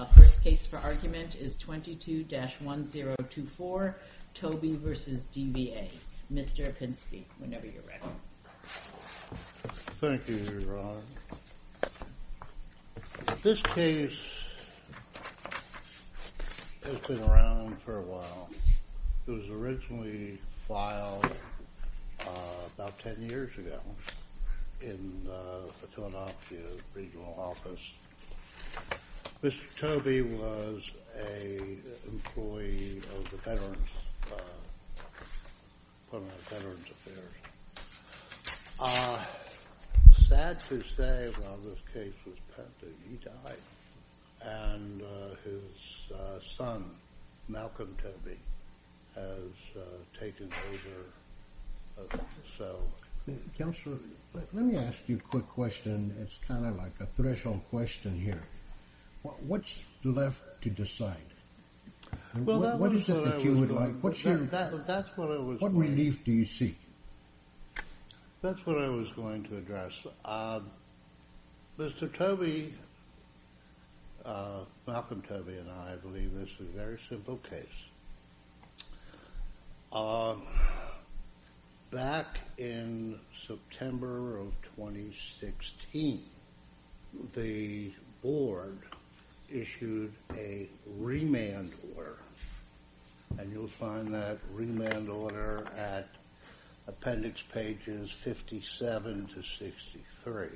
The first case for argument is 22-1024, Toby v. DVA. Mr. Opinski, whenever you're ready. Thank you, Ron. This case has been around for a while. It was originally filed about ten years ago in the Philadelphia Regional Office. Mr. Toby was an employee of the Veterans Affairs. It's sad to say, while this case was pending, he died. And his son, Malcolm Toby, has taken over. Counselor, let me ask you a quick question. It's kind of like a threshold question here. What's left to decide? What is it that you would like? What relief do you seek? That's what I was going to address. Mr. Toby, Malcolm Toby, and I believe this is a very simple case. Back in September of 2016, the board issued a remand order. And you'll find that remand order at appendix pages 57 to 63.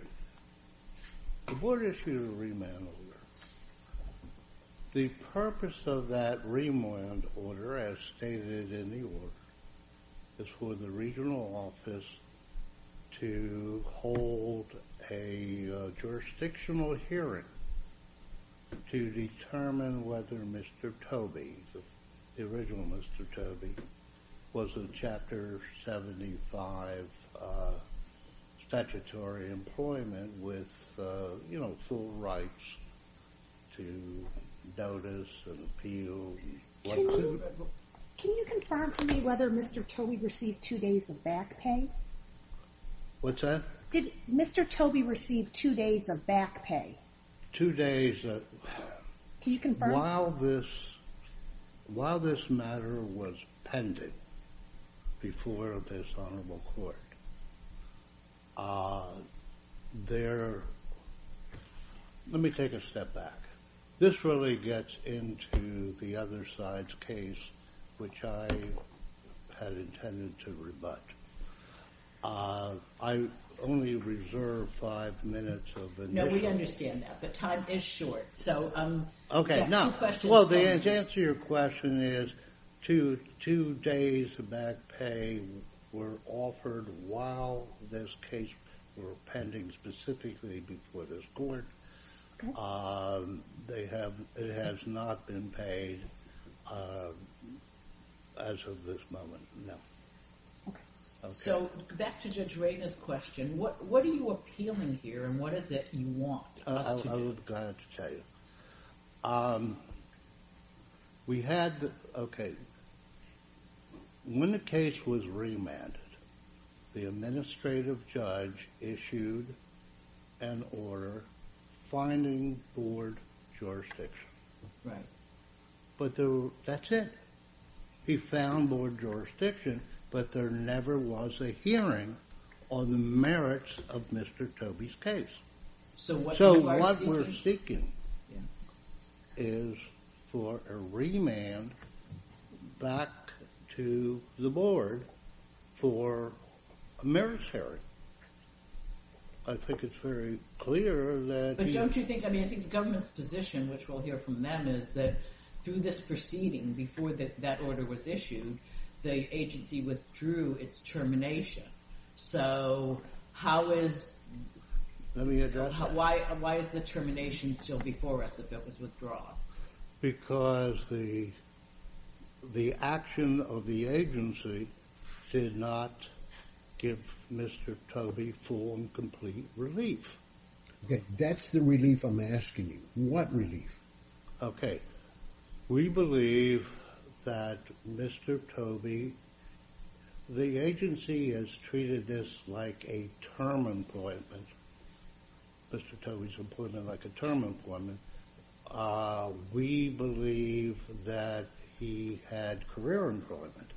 The board issued a remand order. The purpose of that remand order, as stated in the order, is for the Regional Office to hold a jurisdictional hearing to determine whether Mr. Toby, the original Mr. Toby, was in Chapter 75 statutory employment with full rights to notice and appeal. Can you confirm for me whether Mr. Toby received two days of back pay? What's that? Did Mr. Toby receive two days of back pay? Two days of... Can you confirm? While this matter was pending before this honorable court, let me take a step back. This really gets into the other side's case, which I had intended to rebut. I only reserve five minutes of initial... No, we understand that, but time is short. Okay, now. Well, the answer to your question is two days of back pay were offered while this case were pending specifically before this court. It has not been paid as of this moment, no. Okay, so back to Judge Raynor's question. What are you appealing here, and what is it you want us to do? I would be glad to tell you. We had, okay, when the case was remanded, the administrative judge issued an order finding board jurisdiction. Right. That's it. He found board jurisdiction, but there never was a hearing on the merits of Mr. Toby's case. So what we're seeking is for a remand back to the board for a merits hearing. I think it's very clear that... But don't you think, I mean, I think the government's position, which we'll hear from them, is that through this proceeding, before that order was issued, the agency withdrew its termination. So how is... Let me address that. Why is the termination still before us if it was withdrawn? Because the action of the agency did not give Mr. Toby full and complete relief. Okay, that's the relief I'm asking you. What relief? Okay, we believe that Mr. Toby, the agency has treated this like a term employment, Mr. Toby's employment like a term employment. We believe that he had career employment,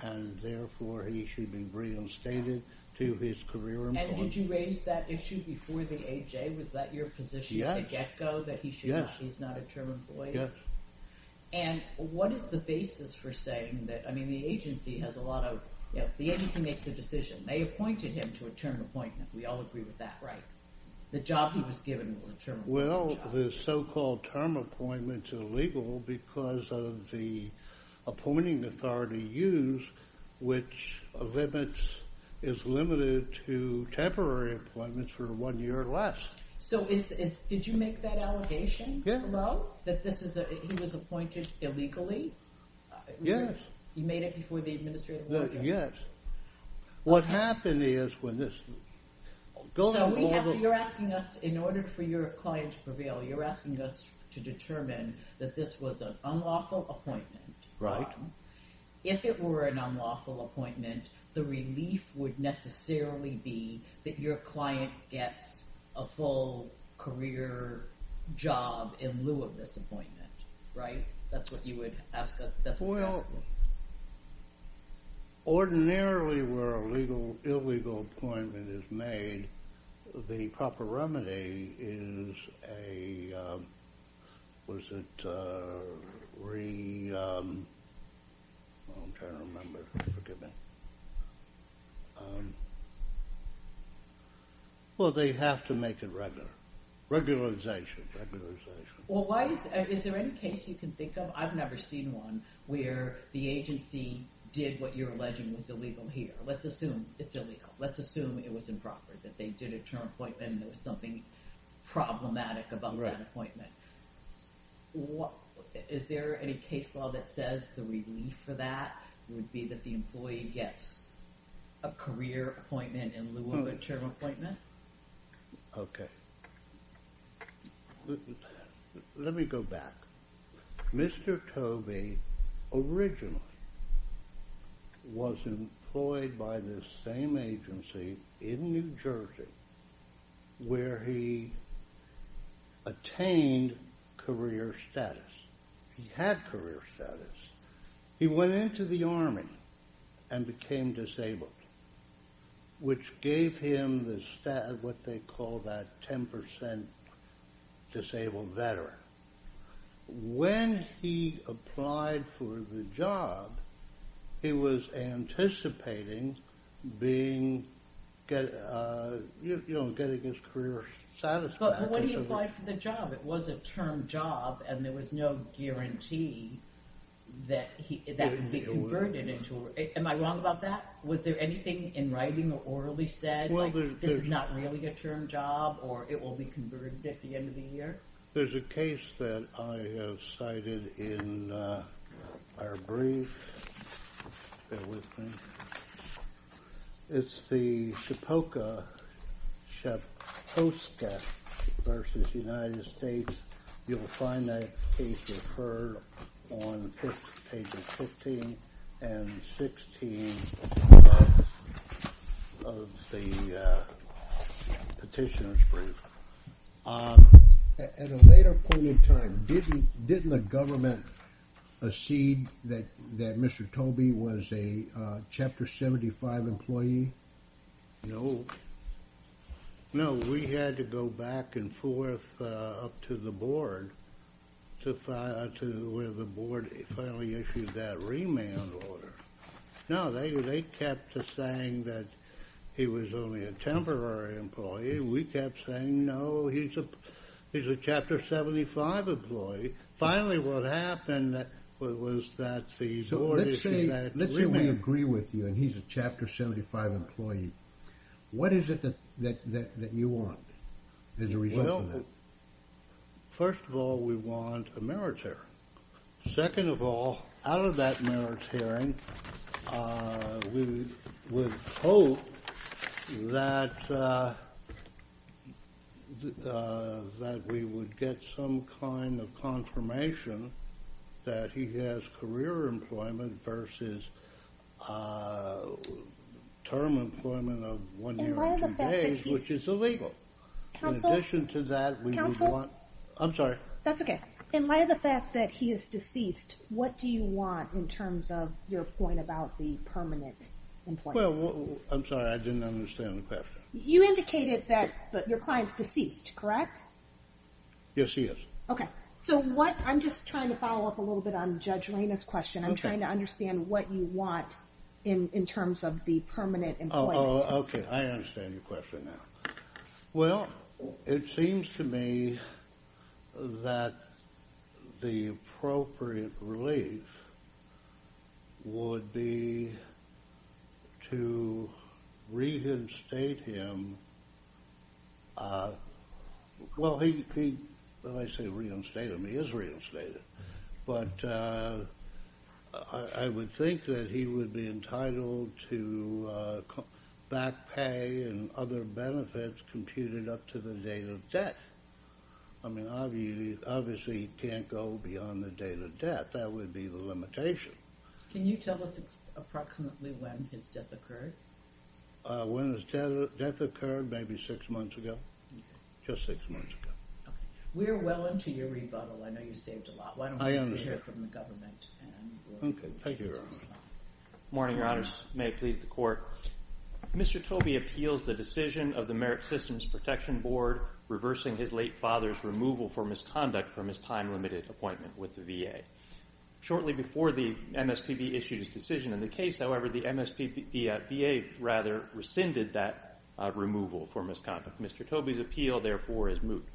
and therefore he should be reinstated to his career employment. And did you raise that issue before the AHA? Was that your position at the get-go, that he's not a term employee? Yes. And what is the basis for saying that? I mean, the agency has a lot of... The agency makes a decision. They appointed him to a term appointment. We all agree with that, right? The job he was given was a term employment job. Well, the so-called term appointments are illegal because of the appointing authority use, which limits, is limited to temporary appointments for one year or less. So did you make that allegation? Yeah. That he was appointed illegally? Yes. You made it before the administration? Yes. What happened is when this... So you're asking us, in order for your client to prevail, you're asking us to determine that this was an unlawful appointment. Right. If it were an unlawful appointment, the relief would necessarily be that your client gets a full career job in lieu of this appointment, right? That's what you would ask us? Well, ordinarily where a legal, illegal appointment is made, the proper remedy is a... Was it re... I'm trying to remember. Forgive me. Well, they have to make it regular. Regularization, regularization. Well, why is... Is there any case you can think of? I've never seen one where the agency did what you're alleging was illegal here. Let's assume it's illegal. Let's assume it was improper, that they did a term appointment and there was something problematic about that appointment. Right. Is there any case law that says the relief for that would be that the employee gets a career appointment in lieu of a term appointment? Okay. Let me go back. Mr. Tobey originally was employed by this same agency in New Jersey where he attained career status. He had career status. He went into the Army and became disabled, which gave him what they call that 10% disabled veteran. When he applied for the job, he was anticipating getting his career satisfaction. But when he applied for the job, it was a term job and there was no guarantee that he would be converted into... Am I wrong about that? Was there anything in writing or orally said, like this is not really a term job or it will be converted at the end of the year? There's a case that I have cited in our brief. Bear with me. It's the Shapoka-Shaposka v. United States. You'll find that case referred on pages 15 and 16 of the petitioner's brief. At a later point in time, didn't the government accede that Mr. Tobey was a Chapter 75 employee? No. No, we had to go back and forth up to the board where the board finally issued that remand order. No, they kept saying that he was only a temporary employee. We kept saying, no, he's a Chapter 75 employee. Finally, what happened was that the board issued that remand order. Let's say we agree with you and he's a Chapter 75 employee. What is it that you want as a result of that? Well, first of all, we want a merits hearing. Second of all, out of that merits hearing, we would hope that we would get some kind of confirmation that he has career employment versus term employment of one year and two days, which is illegal. Counsel? In addition to that, we would want... Counsel? I'm sorry. That's okay. In light of the fact that he is deceased, what do you want in terms of your point about the permanent employment? I'm sorry, I didn't understand the question. You indicated that your client's deceased, correct? Yes, he is. Okay. I'm just trying to follow up a little bit on Judge Reyna's question. I'm trying to understand what you want in terms of the permanent employment. Okay, I understand your question now. Well, it seems to me that the appropriate relief would be to reinstate him. Well, when I say reinstate him, he is reinstated. But I would think that he would be entitled to back pay and other benefits computed up to the date of death. I mean, obviously he can't go beyond the date of death. That would be the limitation. Can you tell us approximately when his death occurred? When his death occurred? Maybe six months ago, just six months ago. We are well into your rebuttal. I know you saved a lot. Why don't we hear from the government? Okay. Thank you, Your Honor. Good morning, Your Honors. May it please the Court. Mr. Tobey appeals the decision of the Merit Systems Protection Board reversing his late father's removal for misconduct from his time-limited appointment with the VA. Shortly before the MSPB issued his decision in the case, however, the VA rather rescinded that removal for misconduct. Mr. Tobey's appeal, therefore, is moved.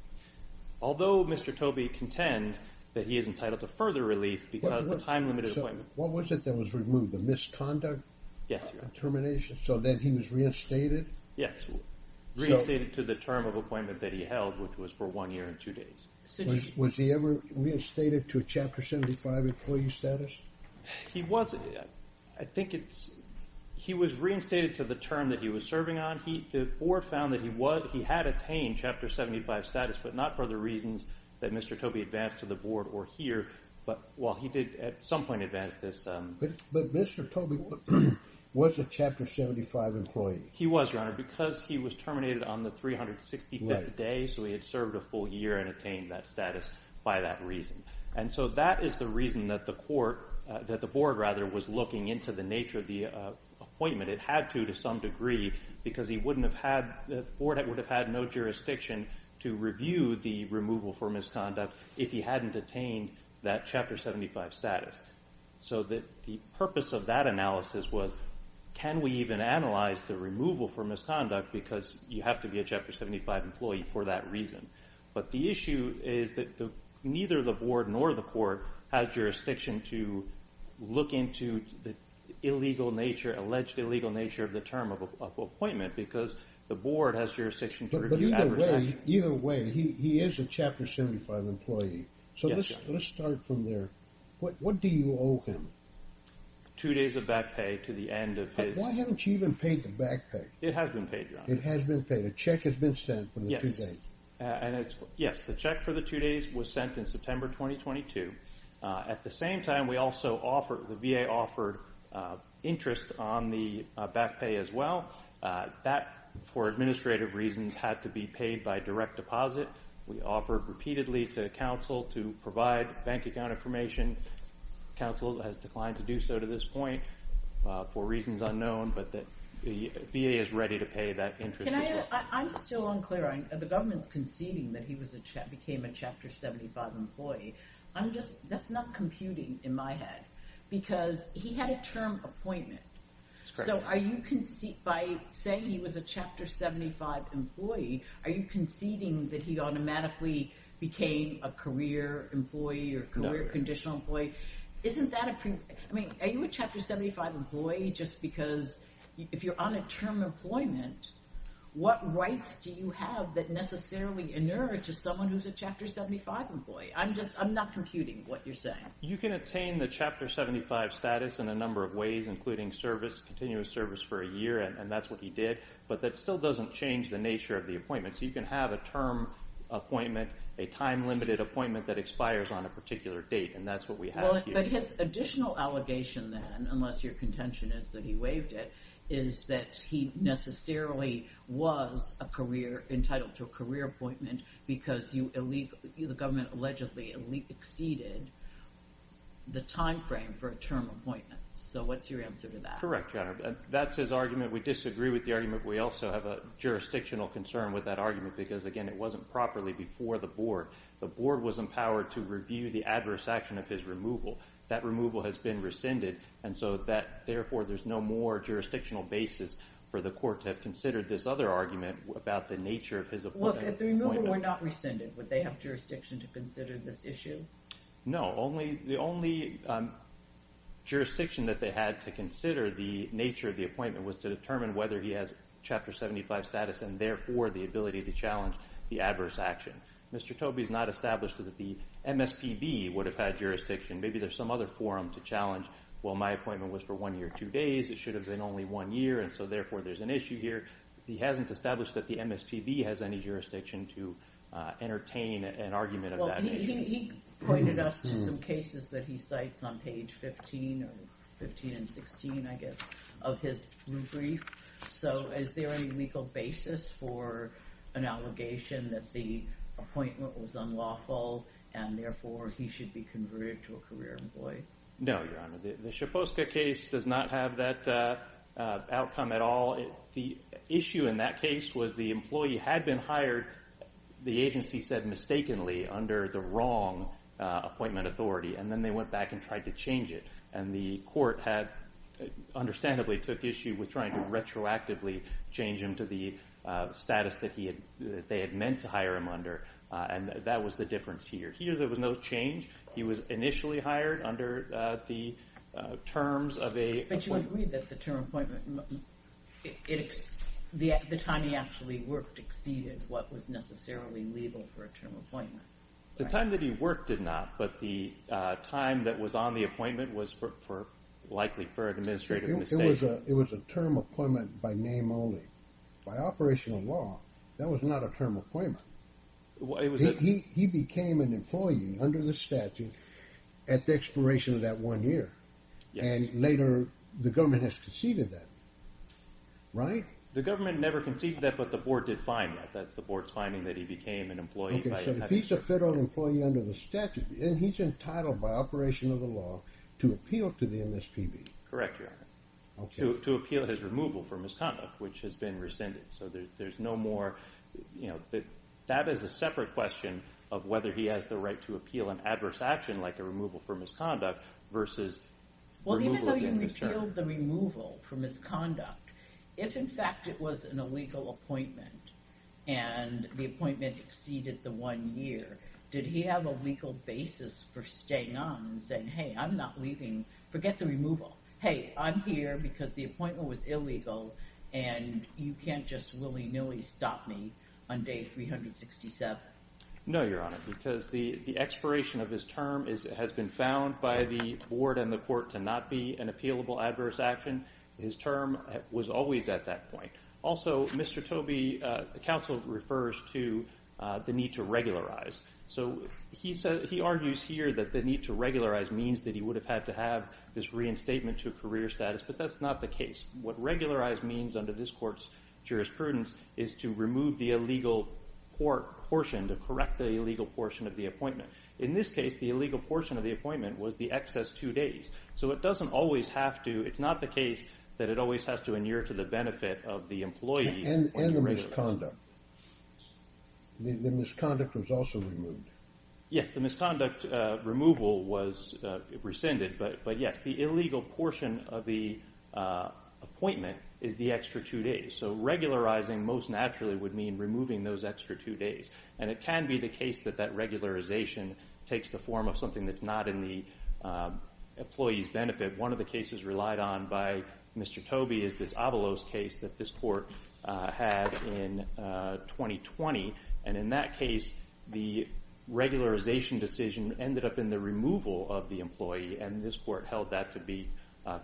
Although Mr. Tobey contends that he is entitled to further relief because of the time-limited appointment. What was it that was removed? The misconduct determination? Yes, Your Honor. So then he was reinstated? Yes, reinstated to the term of appointment that he held, which was for one year and two days. Was he ever reinstated to a Chapter 75 employee status? He was. I think he was reinstated to the term that he was serving on. The Board found that he had attained Chapter 75 status, but not for the reasons that Mr. Tobey advanced to the Board or here. But, well, he did at some point advance this. But Mr. Tobey was a Chapter 75 employee. He was, Your Honor, because he was terminated on the 365th day, so he had served a full year and attained that status by that reason. And so that is the reason that the Court, that the Board, rather, was looking into the nature of the appointment. It had to to some degree because he wouldn't have had, the Board would have had no jurisdiction to review the removal for misconduct if he hadn't attained that Chapter 75 status. So the purpose of that analysis was can we even analyze the removal for misconduct because you have to be a Chapter 75 employee for that reason. But the issue is that neither the Board nor the Court has jurisdiction to look into the illegal nature, alleged illegal nature, of the term of appointment because the Board has jurisdiction to review. But either way, either way, he is a Chapter 75 employee. Yes, Your Honor. So let's start from there. What do you owe him? Two days of back pay to the end of his... Why haven't you even paid the back pay? It has been paid, Your Honor. It has been paid. A check has been sent for the two days. Yes, the check for the two days was sent in September 2022. At the same time, we also offered, the VA offered interest on the back pay as well. That, for administrative reasons, had to be paid by direct deposit. We offered repeatedly to counsel to provide bank account information. Counsel has declined to do so to this point for reasons unknown, but the VA is ready to pay that interest. I'm still unclear. The government is conceding that he became a Chapter 75 employee. I'm just, that's not computing in my head because he had a term appointment. So are you conceding, by saying he was a Chapter 75 employee, are you conceding that he automatically became a career employee or a career conditional employee? Isn't that a, I mean, are you a Chapter 75 employee just because if you're on a term employment, what rights do you have that necessarily inure to someone who's a Chapter 75 employee? I'm just, I'm not computing what you're saying. You can attain the Chapter 75 status in a number of ways, including service, continuous service for a year, and that's what he did, but that still doesn't change the nature of the appointment. So you can have a term appointment, a time-limited appointment, that expires on a particular date, and that's what we have here. But his additional allegation then, unless your contention is that he waived it, is that he necessarily was entitled to a career appointment because the government allegedly exceeded the time frame for a term appointment. So what's your answer to that? Correct, Your Honor. That's his argument. We disagree with the argument. We also have a jurisdictional concern with that argument because, again, it wasn't properly before the Board. The Board was empowered to review the adverse action of his removal. That removal has been rescinded, and so therefore there's no more jurisdictional basis for the Court to have considered this other argument about the nature of his appointment. Look, if the removal were not rescinded, would they have jurisdiction to consider this issue? No. The only jurisdiction that they had to consider the nature of the appointment was to determine whether he has Chapter 75 status and, therefore, the ability to challenge the adverse action. Mr. Tobey has not established that the MSPB would have had jurisdiction. Maybe there's some other forum to challenge, well, my appointment was for one year, two days. It should have been only one year, and so, therefore, there's an issue here. He hasn't established that the MSPB has any jurisdiction to entertain an argument of that nature. He pointed us to some cases that he cites on page 15 or 15 and 16, I guess, of his brief. So is there any legal basis for an allegation that the appointment was unlawful and, therefore, he should be converted to a career employee? No, Your Honor. The Szypulska case does not have that outcome at all. The issue in that case was the employee had been hired, the agency said mistakenly, under the wrong appointment authority, and then they went back and tried to change it, and the court had understandably took issue with trying to retroactively change him to the status that they had meant to hire him under, and that was the difference here. Here there was no change. He was initially hired under the terms of a appointment. But you agree that the term appointment, the time he actually worked, exceeded what was necessarily legal for a term appointment, right? The time that he worked did not, but the time that was on the appointment was likely for an administrative mistake. It was a term appointment by name only. By operational law, that was not a term appointment. He became an employee under the statute at the expiration of that one year, and later the government has conceded that, right? The government never conceded that, but the board did find that. So if he's a federal employee under the statute, then he's entitled by operation of the law to appeal to the MSPB. Correct, Your Honor. Okay. To appeal his removal for misconduct, which has been rescinded. So there's no more, you know, that is a separate question of whether he has the right to appeal an adverse action like a removal for misconduct versus removal of MSPB. Well, even though you repealed the removal for misconduct, if, in fact, it was an illegal appointment and the appointment exceeded the one year, did he have a legal basis for staying on and saying, hey, I'm not leaving. Forget the removal. Hey, I'm here because the appointment was illegal, and you can't just willy-nilly stop me on day 367. No, Your Honor, because the expiration of his term has been found by the board and the court to not be an appealable adverse action. His term was always at that point. Also, Mr. Tobey, the counsel refers to the need to regularize. So he argues here that the need to regularize means that he would have had to have this reinstatement to a career status, but that's not the case. What regularize means under this court's jurisprudence is to remove the illegal portion, to correct the illegal portion of the appointment. In this case, the illegal portion of the appointment was the excess two days. So it doesn't always have to. It's not the case that it always has to adhere to the benefit of the employee. And the misconduct. The misconduct was also removed. Yes, the misconduct removal was rescinded, but, yes, the illegal portion of the appointment is the extra two days. So regularizing most naturally would mean removing those extra two days, and it can be the case that that regularization takes the form of something that's not in the employee's benefit. One of the cases relied on by Mr. Tobey is this Avalos case that this court had in 2020. And in that case, the regularization decision ended up in the removal of the employee, and this court held that to be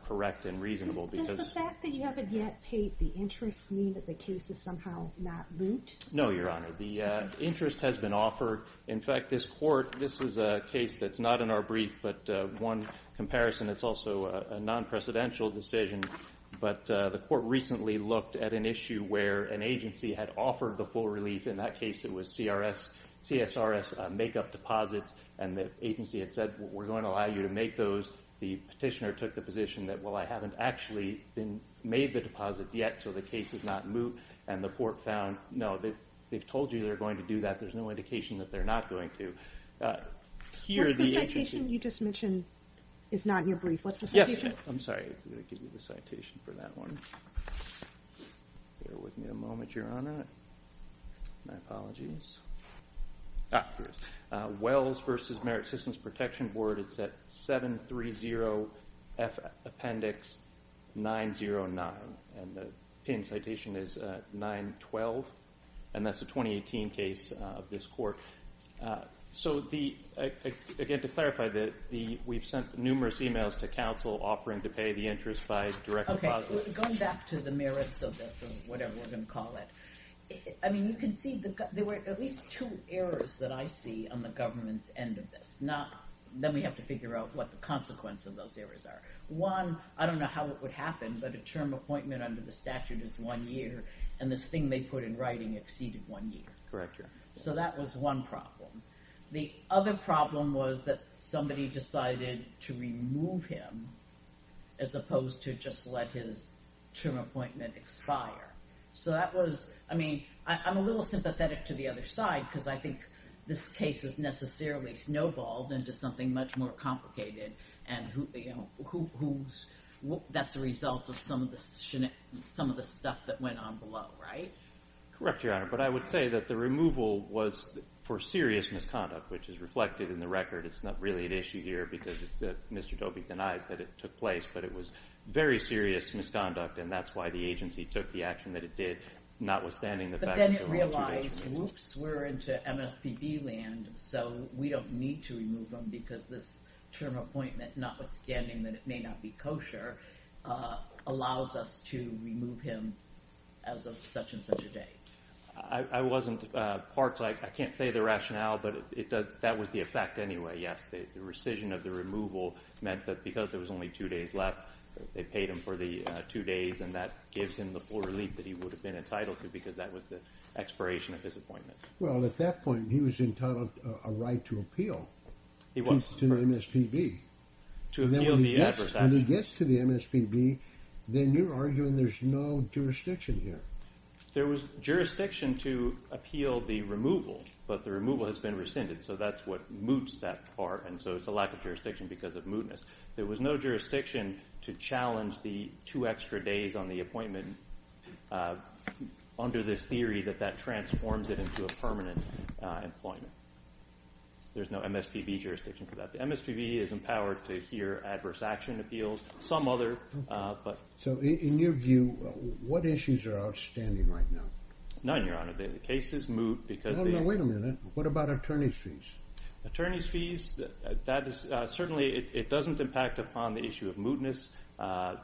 correct and reasonable. Does the fact that you haven't yet paid the interest mean that the case is somehow not moot? No, Your Honor. The interest has been offered. In fact, this court, this is a case that's not in our brief, but one comparison that's also a non-precedential decision, but the court recently looked at an issue where an agency had offered the full relief. In that case, it was CSRS make-up deposits, and the agency had said we're going to allow you to make those. The petitioner took the position that, well, I haven't actually made the deposits yet, so the case is not moot. And the court found, no, they've told you they're going to do that. There's no indication that they're not going to. What's the citation you just mentioned? It's not in your brief. What's the citation? Yes. I'm sorry. I'm going to give you the citation for that one. Bear with me a moment, Your Honor. My apologies. Ah, here it is. Wells v. Merit Systems Protection Board. It's at 730F Appendix 909. And the pinned citation is 912, and that's a 2018 case of this court. So, again, to clarify, we've sent numerous emails to counsel offering to pay the interest by direct deposit. Okay. Going back to the merits of this, or whatever we're going to call it, I mean, you can see there were at least two errors that I see on the government's end of this. Then we have to figure out what the consequence of those errors are. One, I don't know how it would happen, but a term appointment under the statute is one year, and this thing they put in writing exceeded one year. Correct, Your Honor. So that was one problem. The other problem was that somebody decided to remove him as opposed to just let his term appointment expire. So that was, I mean, I'm a little sympathetic to the other side because I think this case has necessarily snowballed into something much more complicated, and that's a result of some of the stuff that went on below, right? Correct, Your Honor. But I would say that the removal was for serious misconduct, which is reflected in the record. It's not really an issue here because Mr. Dobie denies that it took place, but it was very serious misconduct, and that's why the agency took the action that it did, notwithstanding the fact that there were two agencies. But then it realized, whoops, we're into MSPB land, so we don't need to remove him because this term appointment, notwithstanding that it may not be kosher, allows us to remove him as of such and such a date. I wasn't part, I can't say the rationale, but that was the effect anyway. Yes, the rescission of the removal meant that because there was only two days left, they paid him for the two days, and that gives him the full relief that he would have been entitled to because that was the expiration of his appointment. Well, at that point, he was entitled a right to appeal. He was. To the MSPB. To appeal the exercise. When he gets to the MSPB, then you're arguing there's no jurisdiction here. There was jurisdiction to appeal the removal, but the removal has been rescinded, so that's what moots that part, and so it's a lack of jurisdiction because of mootness. There was no jurisdiction to challenge the two extra days on the appointment under this theory that that transforms it into a permanent employment. There's no MSPB jurisdiction for that. The MSPB is empowered to hear adverse action appeals, some other, but. So in your view, what issues are outstanding right now? None, Your Honor. The case is moot because they. No, no, wait a minute. What about attorney's fees? Attorney's fees, that is certainly, it doesn't impact upon the issue of mootness. The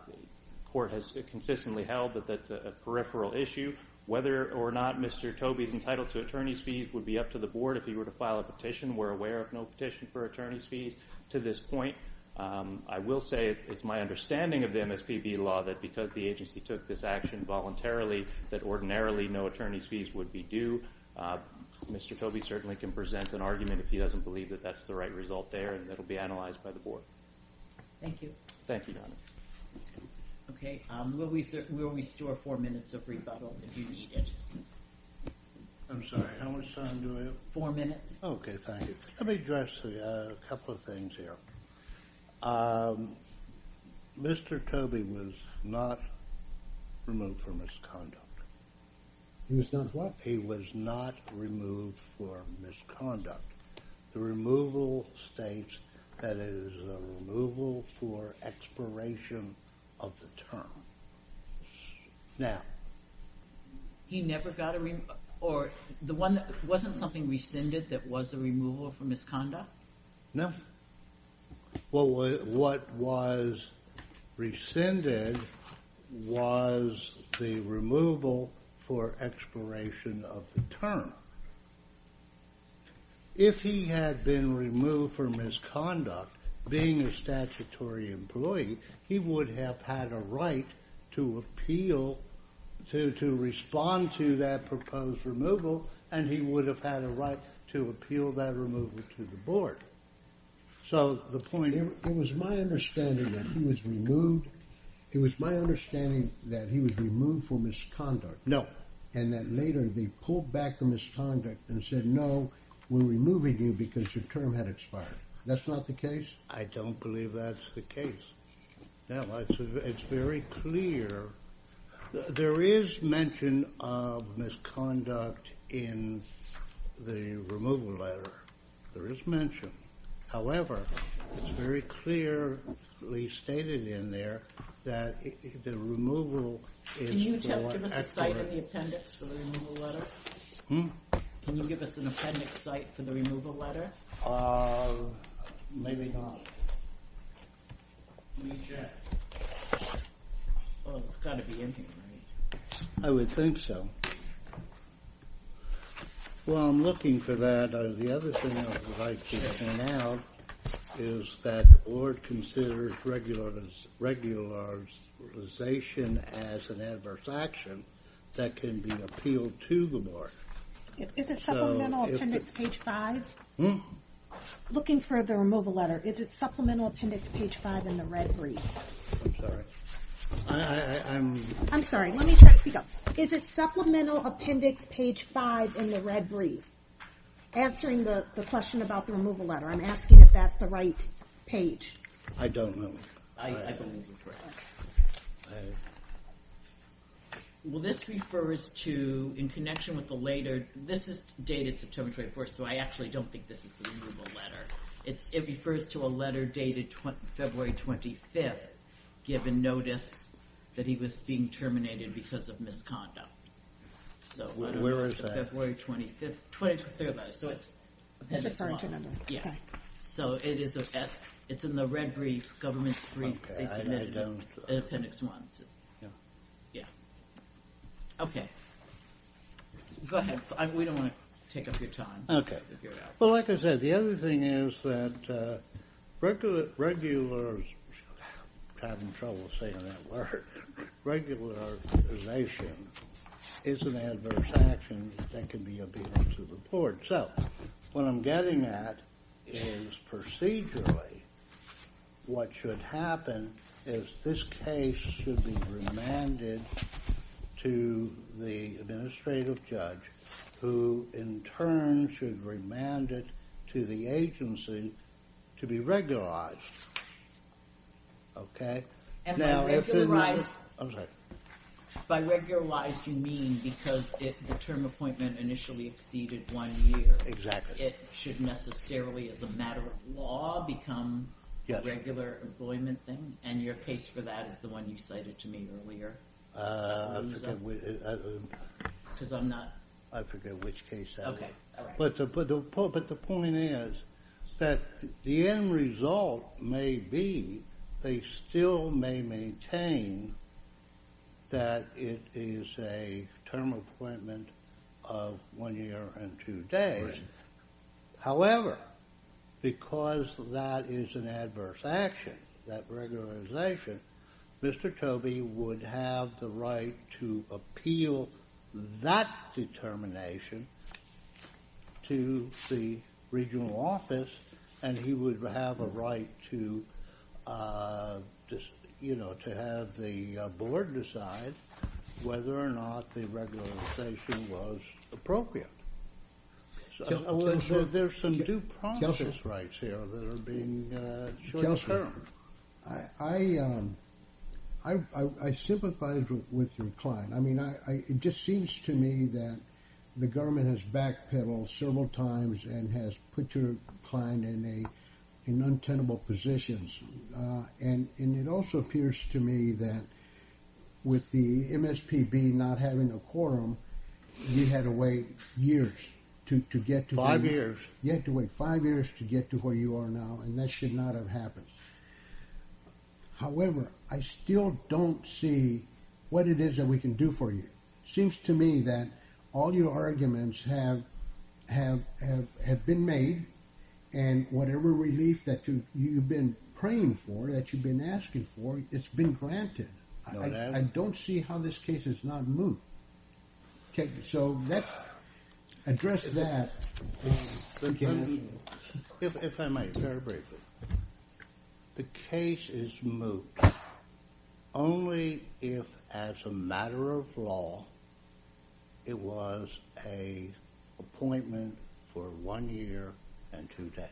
court has consistently held that that's a peripheral issue. Whether or not Mr. Tobey is entitled to attorney's fees would be up to the board if he were to file a petition. We're aware of no petition for attorney's fees to this point. I will say it's my understanding of the MSPB law that because the agency took this action voluntarily, that ordinarily no attorney's fees would be due. Mr. Tobey certainly can present an argument if he doesn't believe that that's the right result there, and that will be analyzed by the board. Thank you. Thank you, Your Honor. Okay, we'll restore four minutes of rebuttal if you need it. I'm sorry, how much time do I have? Four minutes. Okay, thank you. Let me address a couple of things here. Mr. Tobey was not removed for misconduct. He was not what? He was not removed for misconduct. The removal states that it is a removal for expiration of the term. Now... Wasn't something rescinded that was a removal for misconduct? No. What was rescinded was the removal for expiration of the term. If he had been removed for misconduct, being a statutory employee, he would have had a right to appeal, to respond to that proposed removal, and he would have had a right to appeal that removal to the board. So the point... It was my understanding that he was removed for misconduct. No. And that later they pulled back the misconduct and said, no, we're removing you because your term had expired. That's not the case? I don't believe that's the case. It's very clear. There is mention of misconduct in the removal letter. There is mention. However, it's very clearly stated in there that the removal is for... Can you give us a site of the appendix for the removal letter? Can you give us an appendix site for the removal letter? Maybe not. Let me check. It's got to be in here, right? I would think so. While I'm looking for that, the other thing I would like to point out is that the board considers regularization as an adverse action that can be appealed to the board. Is it supplemental appendix page 5? Looking for the removal letter, is it supplemental appendix page 5 in the red brief? I'm sorry. I'm sorry. Let me speak up. Is it supplemental appendix page 5 in the red brief? Answering the question about the removal letter, I'm asking if that's the right page. I don't know. I believe it's correct. Well, this refers to, in connection with the later, this is dated September 24th, so I actually don't think this is the removal letter. It refers to a letter dated February 25th, given notice that he was being terminated because of misconduct. Where is that? February 25th, 23rd. It's in the red brief, government's brief. They submitted an appendix once. Yeah. Okay. Go ahead. We don't want to take up your time. Okay. Well, like I said, the other thing is that regularization is an adverse action that can be appealed to the board. So what I'm getting at is procedurally what should happen is this case should be remanded to the administrative judge, who in turn should remand it to the agency to be regularized. Okay? And by regularized you mean because the term appointment initially exceeded one year. Exactly. It should necessarily, as a matter of law, become a regular employment thing, and your case for that is the one you cited to me earlier. I forget which case that is. Okay. But the point is that the end result may be they still may maintain that it is a term appointment of one year and two days. However, because that is an adverse action, that regularization, Mr. Tobey would have the right to appeal that determination to the regional board to decide whether or not the regularization was appropriate. There's some due process rights here that are being short-term. I sympathize with your client. I mean, it just seems to me that the government has backpedaled several times and has put your client in untenable positions. And it also appears to me that with the MSPB not having a quorum, you had to wait years to get to where you are now, and that should not have happened. However, I still don't see what it is that we can do for you. It seems to me that all your arguments have been made, and whatever relief that you've been praying for, that you've been asking for, it's been granted. I don't see how this case is not moved. So let's address that. If I might, very briefly. The case is moved only if, as a matter of law, it was an appointment for one year and two days.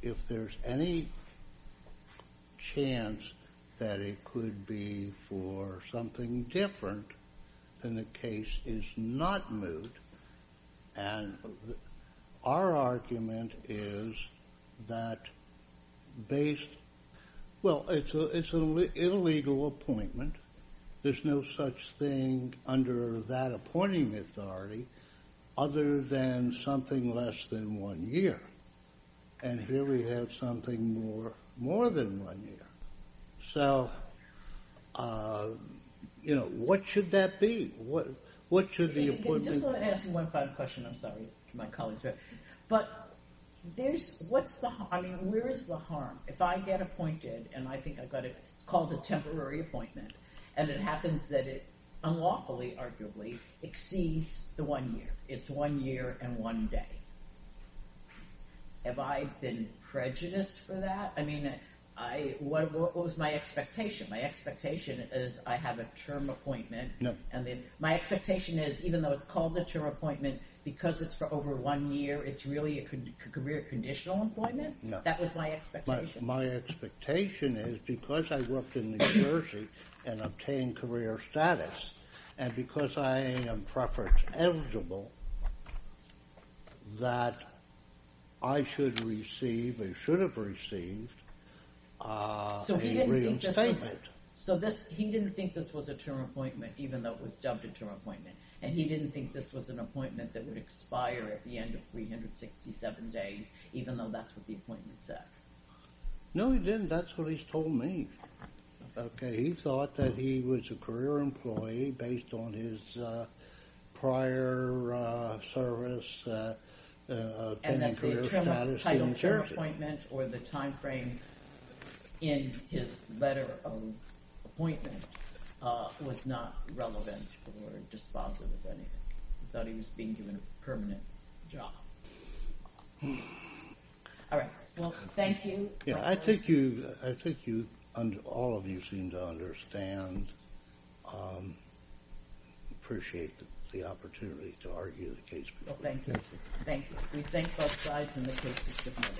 If there's any chance that it could be for something different, then the case is not moved. And our argument is that based – well, it's an illegal appointment. There's no such thing under that appointing authority other than something less than one year. And here we have something more than one year. So, you know, what should that be? What should the appointment be? Just let me ask you one final question. I'm sorry for my colleagues here. But what's the harm? I mean, where is the harm? If I get appointed, and I think I've got a – it's called a temporary appointment, and it happens that it unlawfully, arguably, exceeds the one year. It's one year and one day. Have I been prejudiced for that? I mean, what was my expectation? My expectation is I have a term appointment. And then my expectation is, even though it's called a term appointment, because it's for over one year, it's really a career conditional appointment? No. That was my expectation. My expectation is, because I worked in New Jersey and obtained career status, and because I am preference eligible, that I should receive or should have received a real statement. So he didn't think this was a term appointment, even though it was dubbed a term appointment. And he didn't think this was an appointment that would expire at the end of 367 days, even though that's what the appointment said. No, he didn't. That's what he's told me. Okay. He thought that he was a career employee, based on his prior service obtaining career status in New Jersey. And that the term appointment or the timeframe in his letter of appointment was not relevant or dispositive of anything. He thought he was being given a permanent job. All right. Well, thank you. Yeah, I think all of you seem to understand, appreciate the opportunity to argue the case. Well, thank you. Thank you. We thank both sides, and the case is dismissed.